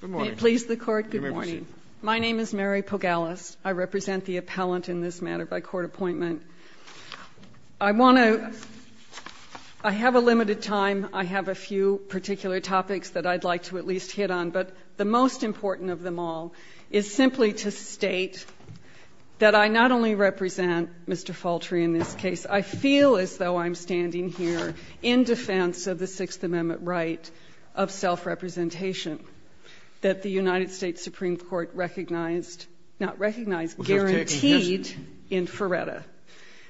Good morning. May it please the Court, good morning. My name is Mary Pogalis. I represent the appellant in this matter by court appointment. I have a limited time. I have a few particular topics that I'd like to at least hit on, but the most important of them all is simply to state that I not only represent Mr. Faultry in this case, I feel as though I'm standing here in defense of the Sixth Amendment right of self-representation that the United States Supreme Court recognized, not recognized, guaranteed in Ferretta.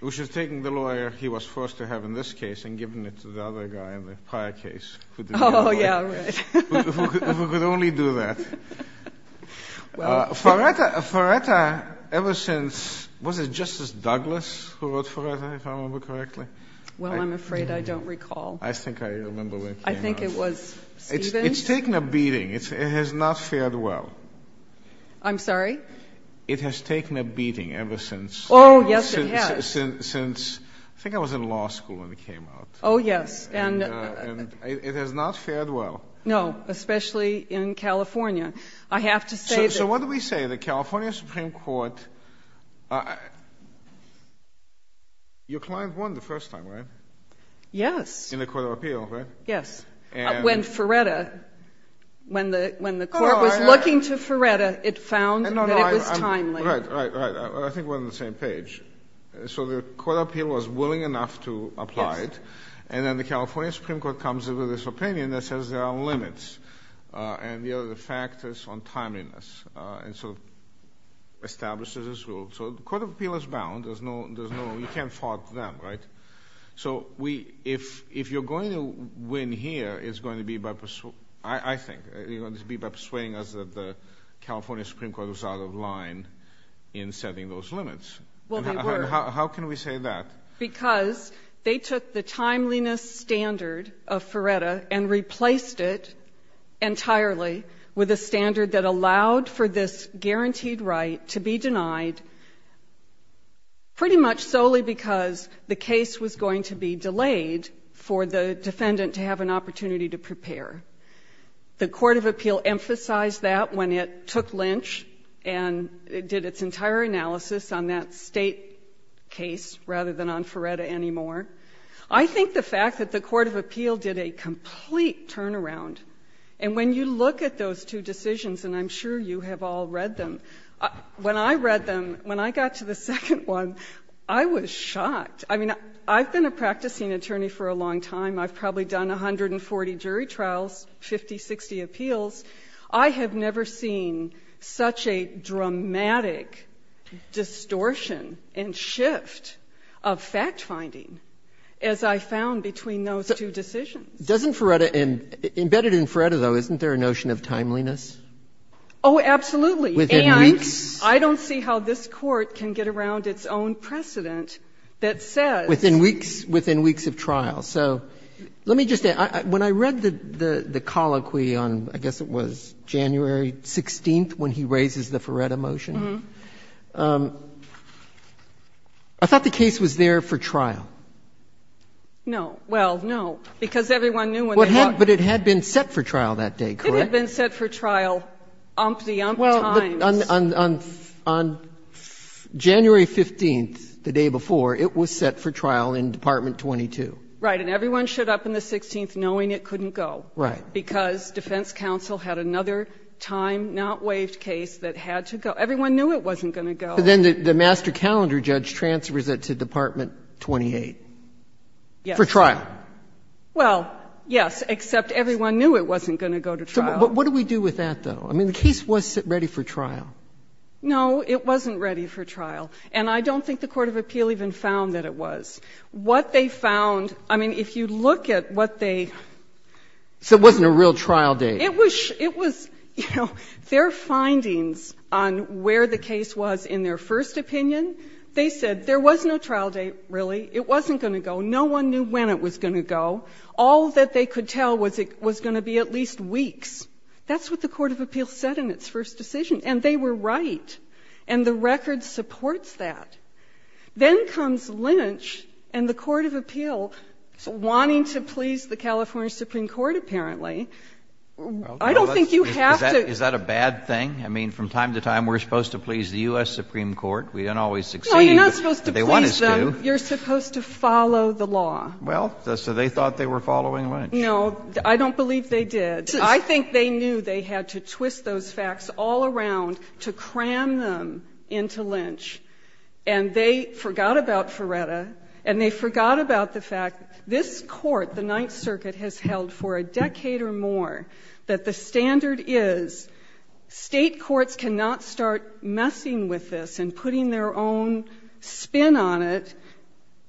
Which is taking the lawyer he was forced to have in this case and giving it to the other guy in the prior case who didn't have a lawyer. Oh, yeah, right. Who could only do that. Ferretta, ever since, was it Justice Douglas who wrote Ferretta, if I remember correctly? Well, I'm afraid I don't recall. I think I remember when it came out. I think it was Stevens. It's taken a beating. It has not fared well. I'm sorry? It has taken a beating ever since. Oh, yes, it has. Since, I think I was in law school when it came out. Oh, yes. And it has not fared well. No, especially in California. I have to say that So what do we say? The California Supreme Court, your client won the first time, right? Yes. In the Court of Appeal, right? Yes. When Ferretta, when the court was looking to Ferretta, it found that it was timely. Right, right, right. I think we're on the same page. So the Court of Appeal was willing enough to apply it, and then the California Supreme Court comes up with this opinion that says there are limits, and the other factors on timeliness, and sort of establishes this rule. So the Court of Appeal is bound. There's no, you can't fault them, right? So if you're going to win here, it's going to be by, I think, it's going to be by persuading us that the California Supreme Court was out of line in setting those limits. Well, they were. How can we say that? Because they took the timeliness standard of Ferretta and replaced it entirely with a standard that allowed for this guaranteed right to be denied pretty much solely because the case was going to be delayed for the defendant to have an opportunity to prepare. The Court of Appeal emphasized that when it took Lynch and did its entire analysis on that State case rather than on Ferretta anymore, I think the fact that the Court of Appeal did a complete turnaround. And when you look at those two decisions, and I'm sure you have all read them, when I read them, when I got to the second one, I was shocked. I mean, I've been a practicing attorney for a long time. I've probably done 140 jury trials, 50, 60 appeals. I have never seen such a dramatic distortion and shift of fact-finding as I found between those two decisions. Doesn't Ferretta embedded in Ferretta, though, isn't there a notion of timeliness? Oh, absolutely. Within weeks? And I don't see how this Court can get around its own precedent that says. Within weeks of trial. So let me just say, when I read the colloquy on, I guess it was January 16th, when he raises the Ferretta motion, I thought the case was there for trial. No. Well, no, because everyone knew when they looked. But it had been set for trial that day, correct? It had been set for trial umpty-umpty times. Well, on January 15th, the day before, it was set for trial in Department 22. Right. And everyone showed up on the 16th knowing it couldn't go. Right. Because defense counsel had another time-not-waived case that had to go. Everyone knew it wasn't going to go. But then the master calendar judge transfers it to Department 28 for trial. Yes. Well, yes, except everyone knew it wasn't going to go to trial. But what do we do with that, though? I mean, the case was ready for trial. No, it wasn't ready for trial. And I don't think the court of appeal even found that it was. What they found, I mean, if you look at what they. So it wasn't a real trial date. It was, you know, their findings on where the case was in their first opinion, they said there was no trial date, really. It wasn't going to go. No one knew when it was going to go. All that they could tell was it was going to be at least weeks. That's what the court of appeal said in its first decision. And they were right. And the record supports that. Then comes Lynch and the court of appeal wanting to please the California Supreme Court, apparently. I don't think you have to. Is that a bad thing? I mean, from time to time we're supposed to please the U.S. Supreme Court. We don't always succeed. No, you're not supposed to please them. They want us to. You're supposed to follow the law. Well, so they thought they were following Lynch. No, I don't believe they did. I think they knew they had to twist those facts all around to cram them into Lynch. And they forgot about Ferretta. And they forgot about the fact this court, the Ninth Circuit, has held for a decade or more that the standard is state courts cannot start messing with this and putting their own spin on it.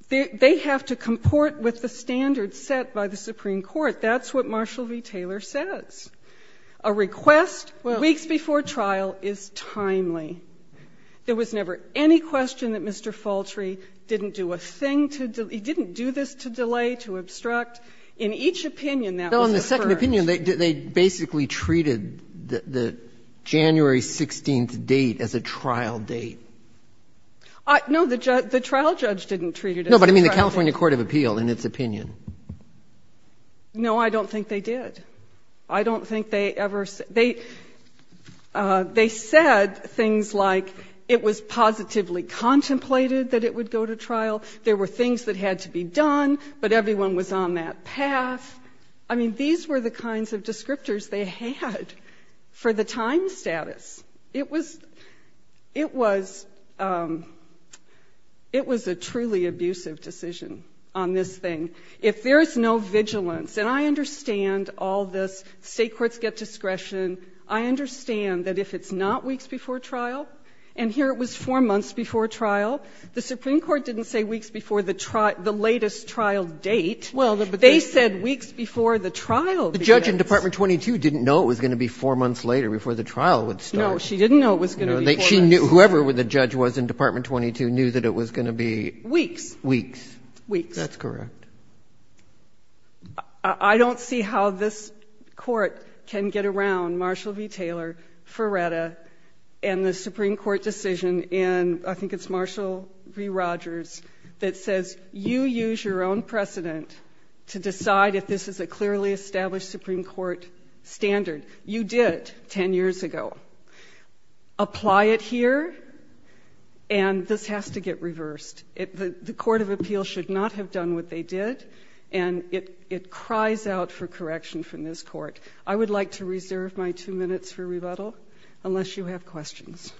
They have to comport with the standards set by the Supreme Court. That's what Marshall v. Taylor says. A request weeks before trial is timely. There was never any question that Mr. Faltry didn't do a thing to delay, didn't do this to delay, to obstruct. In each opinion that was affirmed. No, in the second opinion they basically treated the January 16th date as a trial date. No, the trial judge didn't treat it as a trial date. No, but I mean the California court of appeal in its opinion. No, I don't think they did. I don't think they ever said. They said things like it was positively contemplated that it would go to trial. There were things that had to be done, but everyone was on that path. I mean these were the kinds of descriptors they had for the time status. It was a truly abusive decision on this thing. If there is no vigilance, and I understand all this, state courts get discretion. I understand that if it's not weeks before trial, and here it was four months before trial, the Supreme Court didn't say weeks before the latest trial date. They said weeks before the trial began. The judge in Department 22 didn't know it was going to be four months later before the trial would start. No, she didn't know it was going to be four months. Whoever the judge was in Department 22 knew that it was going to be. Weeks. Weeks. Weeks. That's correct. I don't see how this court can get around Marshall v. Taylor, Ferretta, and the Supreme Court decision in, I think it's Marshall v. Rogers, that says you use your own precedent to decide if this is a clearly established Supreme Court standard. You did it ten years ago. Apply it here, and this has to get reversed. The court of appeal should not have done what they did, and it cries out for correction from this court. I would like to reserve my two minutes for rebuttal, unless you have questions.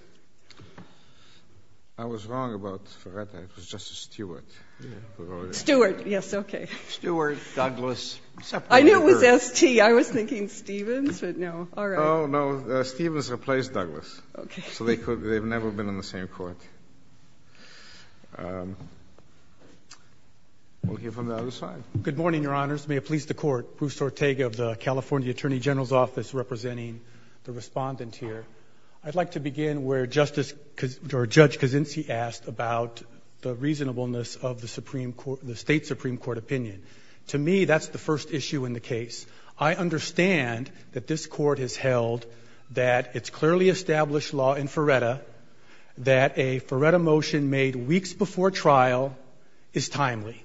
I was wrong about Ferretta. It was Justice Stewart. Stewart. Yes, okay. Stewart, Douglas. I knew it was S.T. I was thinking Stevens, but no. All right. Oh, no. Stevens replaced Douglas. Okay. So they've never been on the same court. We'll hear from the other side. Good morning, Your Honors. May it please the Court. Bruce Ortega of the California Attorney General's Office representing the respondent here. I'd like to begin where Judge Kuczynski asked about the reasonableness of the State Supreme Court opinion. To me, that's the first issue in the case. I understand that this court has held that it's clearly established law in Ferretta that a Ferretta motion made weeks before trial is timely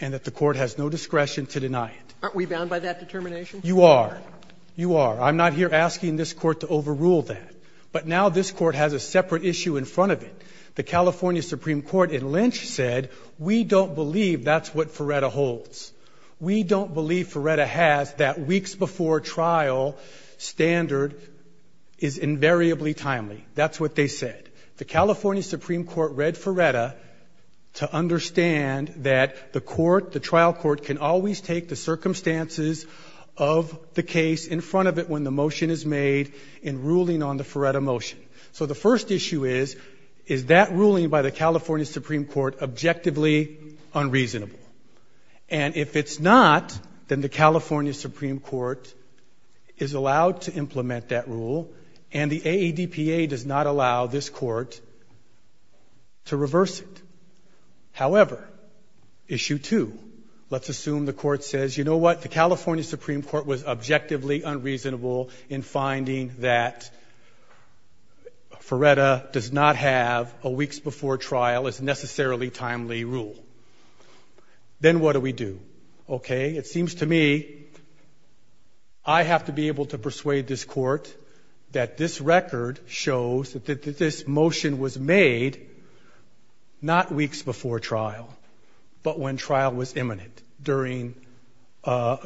and that the court has no discretion to deny it. Aren't we bound by that determination? You are. You are. I'm not here asking this court to overrule that. But now this court has a separate issue in front of it. The California Supreme Court in Lynch said, we don't believe that's what Ferretta holds. We don't believe Ferretta has that weeks before trial standard is invariably timely. That's what they said. The California Supreme Court read Ferretta to understand that the court, the trial court, can always take the circumstances of the case in front of it when the motion is made in ruling on the Ferretta motion. So the first issue is, is that ruling by the California Supreme Court objectively unreasonable? And if it's not, then the California Supreme Court is allowed to implement that rule and the AADPA does not allow this court to reverse it. However, issue two, let's assume the court says, you know what? The California Supreme Court was objectively unreasonable in finding that Ferretta does not have a weeks before trial is necessarily timely rule. Then what do we do? Okay. It seems to me I have to be able to persuade this court that this record shows that this motion was made not weeks before trial, but when trial was imminent, during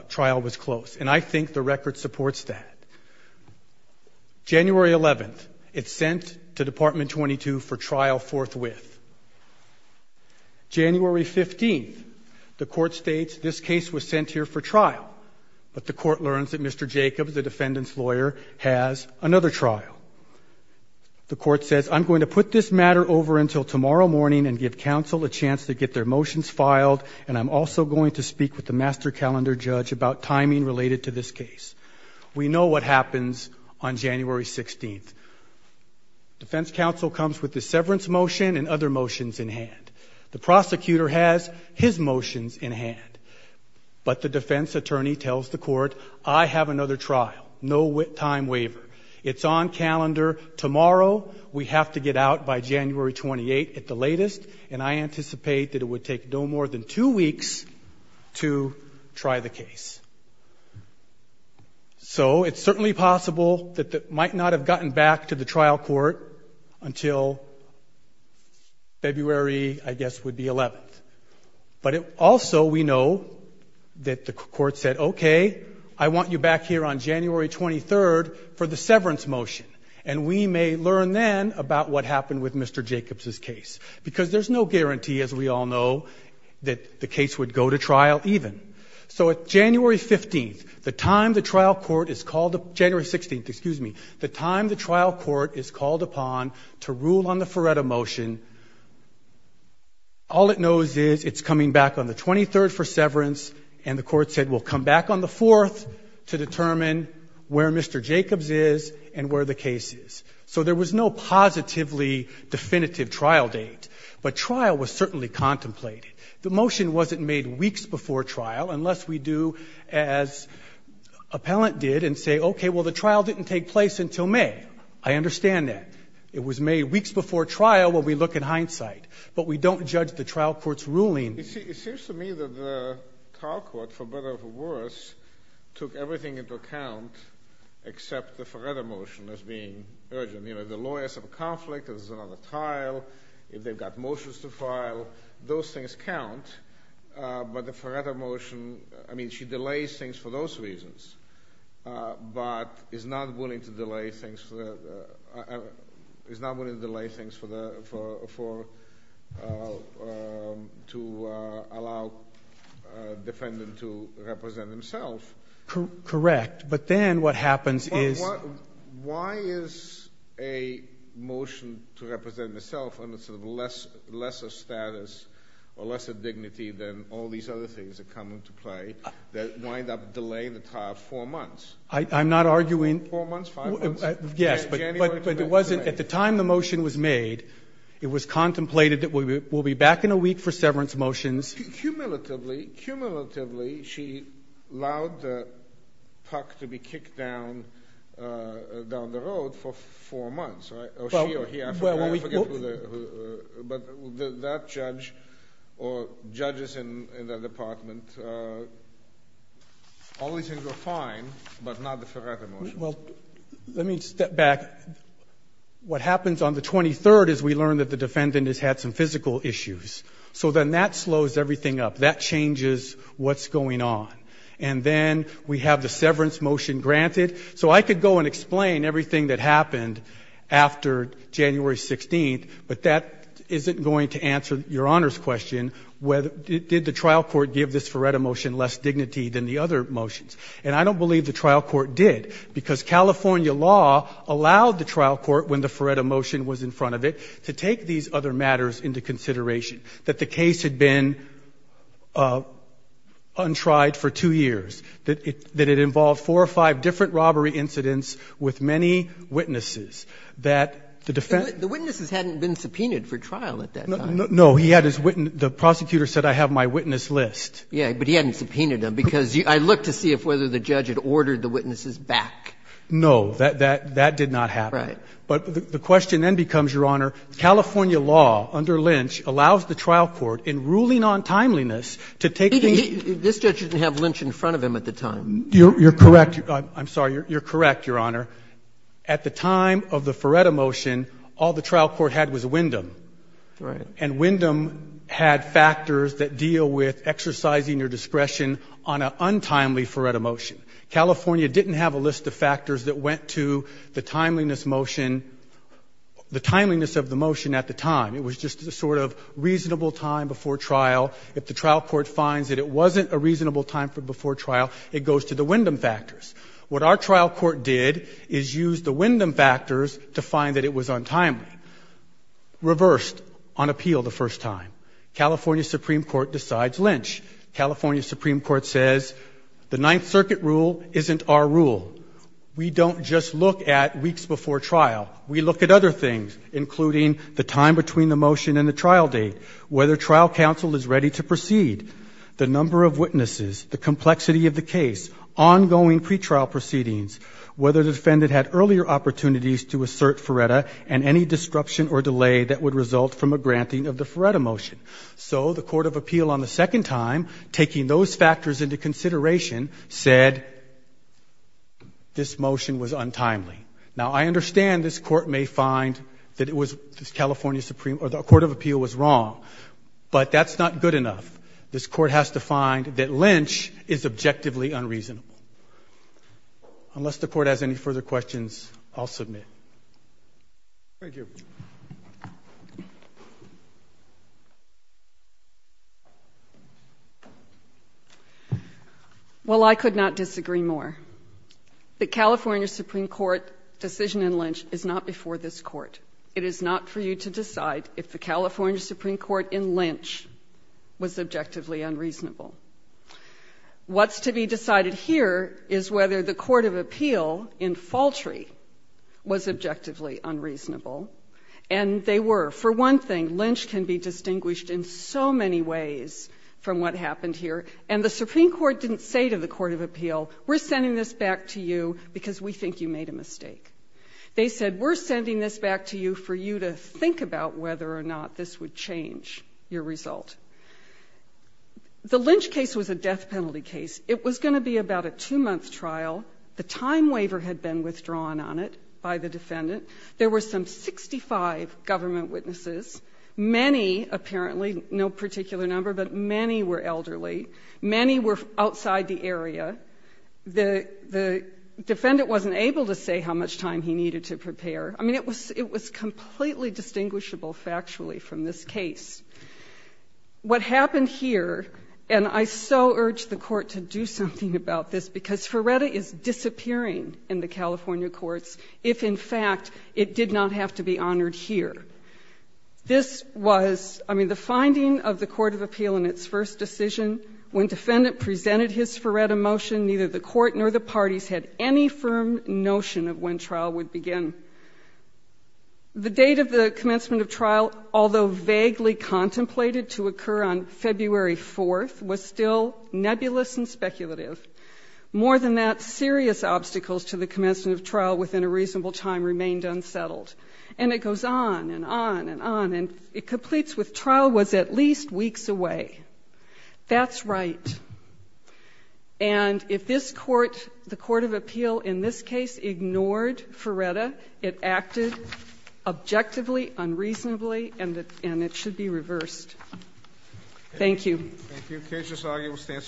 trial was close. And I think the record supports that. January 11th, it's sent to Department 22 for trial forthwith. January 15th, the court states this case was sent here for trial, but the court learns that Mr. Jacobs, the defendant's lawyer, has another trial. The court says, I'm going to put this matter over until tomorrow morning and give counsel a chance to get their motions filed, and I'm also going to speak with the master calendar judge about timing related to this case. We know what happens on January 16th. Defense counsel comes with the severance motion and other motions in hand. The prosecutor has his motions in hand, but the defense attorney tells the court, I have another trial, no time waiver. It's on calendar tomorrow. We have to get out by January 28th at the latest, and I anticipate that it would take no more than two weeks to try the case. So, it's certainly possible that it might not have gotten back to the trial court until February, I guess, would be 11th. But also, we know that the court said, okay, I want you back here on January 23rd for the severance motion, and we may learn then about what happened with Mr. Jacobs' case. Because there's no guarantee, as we all know, that the case would go to trial even. So, at January 15th, the time the trial court is called, January 16th, excuse me, the time the trial court is called upon to rule on the Ferretta motion, all it knows is it's coming back on the 23rd for severance, and the court said, well, come back on the 4th to determine where Mr. Jacobs is and where the case is. So, there was no positively definitive trial date. But trial was certainly contemplated. The motion wasn't made weeks before trial unless we do as appellant did and say, okay, well, the trial didn't take place until May. I understand that. It was made weeks before trial when we look in hindsight. But we don't judge the trial court's ruling. It seems to me that the trial court, for better or for worse, took everything into account except the Ferretta motion as being urgent. You know, the lawyers have a conflict, there's another trial, if they've got motions to file, those things count. But the Ferretta motion, I mean, she delays things for those reasons, but is not willing to delay things for the—is not willing to delay things for the—to allow defendant to represent himself. Correct. But then what happens is— Why is a motion to represent myself under sort of a lesser status or lesser dignity than all these other things that come into play that wind up delaying the trial four months? I'm not arguing— Four months? Five months? Yes, but it wasn't—at the time the motion was made, it was contemplated that we'll be back in a week for severance motions. Cumulatively, cumulatively, she allowed the puck to be kicked down the road for four months, right? Or she or he, I forget who the—but that judge or judges in that department, all these things were fine, but not the Ferretta motion. Well, let me step back. What happens on the 23rd is we learn that the defendant has had some physical issues. So then that slows everything up. That changes what's going on. And then we have the severance motion granted. So I could go and explain everything that happened after January 16th, but that isn't going to answer Your Honor's question, did the trial court give this Ferretta motion less dignity than the other motions? And I don't believe the trial court did, because California law allowed the trial court, when the Ferretta motion was in front of it, to take these other matters into consideration. That the case had been untried for two years. That it involved four or five different robbery incidents with many witnesses. That the defendant— The witnesses hadn't been subpoenaed for trial at that time. No. He had his witness. The prosecutor said, I have my witness list. Yeah, but he hadn't subpoenaed them, because I looked to see if whether the judge had ordered the witnesses back. No. That did not happen. Right. But the question then becomes, Your Honor, California law under Lynch allows the trial court, in ruling on timeliness, to take these— This judge didn't have Lynch in front of him at the time. You're correct. I'm sorry. You're correct, Your Honor. At the time of the Ferretta motion, all the trial court had was Wyndham. Right. And Wyndham had factors that deal with exercising your discretion on an untimely Ferretta motion. California didn't have a list of factors that went to the timeliness motion—the timeliness of the motion at the time. It was just a sort of reasonable time before trial. If the trial court finds that it wasn't a reasonable time before trial, it goes to the Wyndham factors. What our trial court did is use the Wyndham factors to find that it was untimely, reversed on appeal the first time. California Supreme Court decides Lynch. California Supreme Court says the Ninth Circuit rule isn't our rule. We don't just look at weeks before trial. We look at other things, including the time between the motion and the trial date, whether trial counsel is ready to proceed, the number of witnesses, the complexity of the case, ongoing pretrial proceedings, whether the defendant had earlier opportunities to assert Ferretta and any disruption or delay that would result from a granting of the Ferretta motion. So the court of appeal on the second time, taking those factors into consideration, said this motion was untimely. Now, I understand this court may find that it was California Supreme—or the court of appeal was wrong, but that's not good enough. This court has to find that Lynch is objectively unreasonable. Unless the court has any further questions, I'll submit. Thank you. Well, I could not disagree more. The California Supreme Court decision in Lynch is not before this court. It is not for you to decide if the California Supreme Court in Lynch was objectively unreasonable. What's to be decided here is whether the court of appeal in Faltry was objectively unreasonable, and they were. For one thing, Lynch can be distinguished in so many ways from what happened here, and the Supreme Court didn't say to the court of appeal, we're sending this back to you because we think you made a mistake. They said, we're sending this back to you for you to think about whether or not this would change your result. The Lynch case was a death penalty case. It was going to be about a two-month trial. The time waiver had been withdrawn on it by the defendant. There were some 65 government witnesses. Many, apparently, no particular number, but many were elderly. Many were outside the area. The defendant wasn't able to say how much time he needed to prepare. I mean, it was completely distinguishable factually from this case. What happened here, and I so urge the court to do something about this, because Ferretta is disappearing in the California courts, if, in fact, it did not have to be honored here. This was, I mean, the finding of the court of appeal in its first decision, when defendant presented his Ferretta motion, neither the court nor the parties had any firm notion of when trial would begin. The date of the commencement of trial, although vaguely contemplated to occur on February 4th, was still nebulous and speculative. More than that, serious obstacles to the commencement of trial within a reasonable time remained unsettled. And it goes on and on and on. And it completes with trial was at least weeks away. That's right. And if this court, the court of appeal in this case, ignored Ferretta, it acted objectively, unreasonably, and it should be reversed. Thank you. Thank you.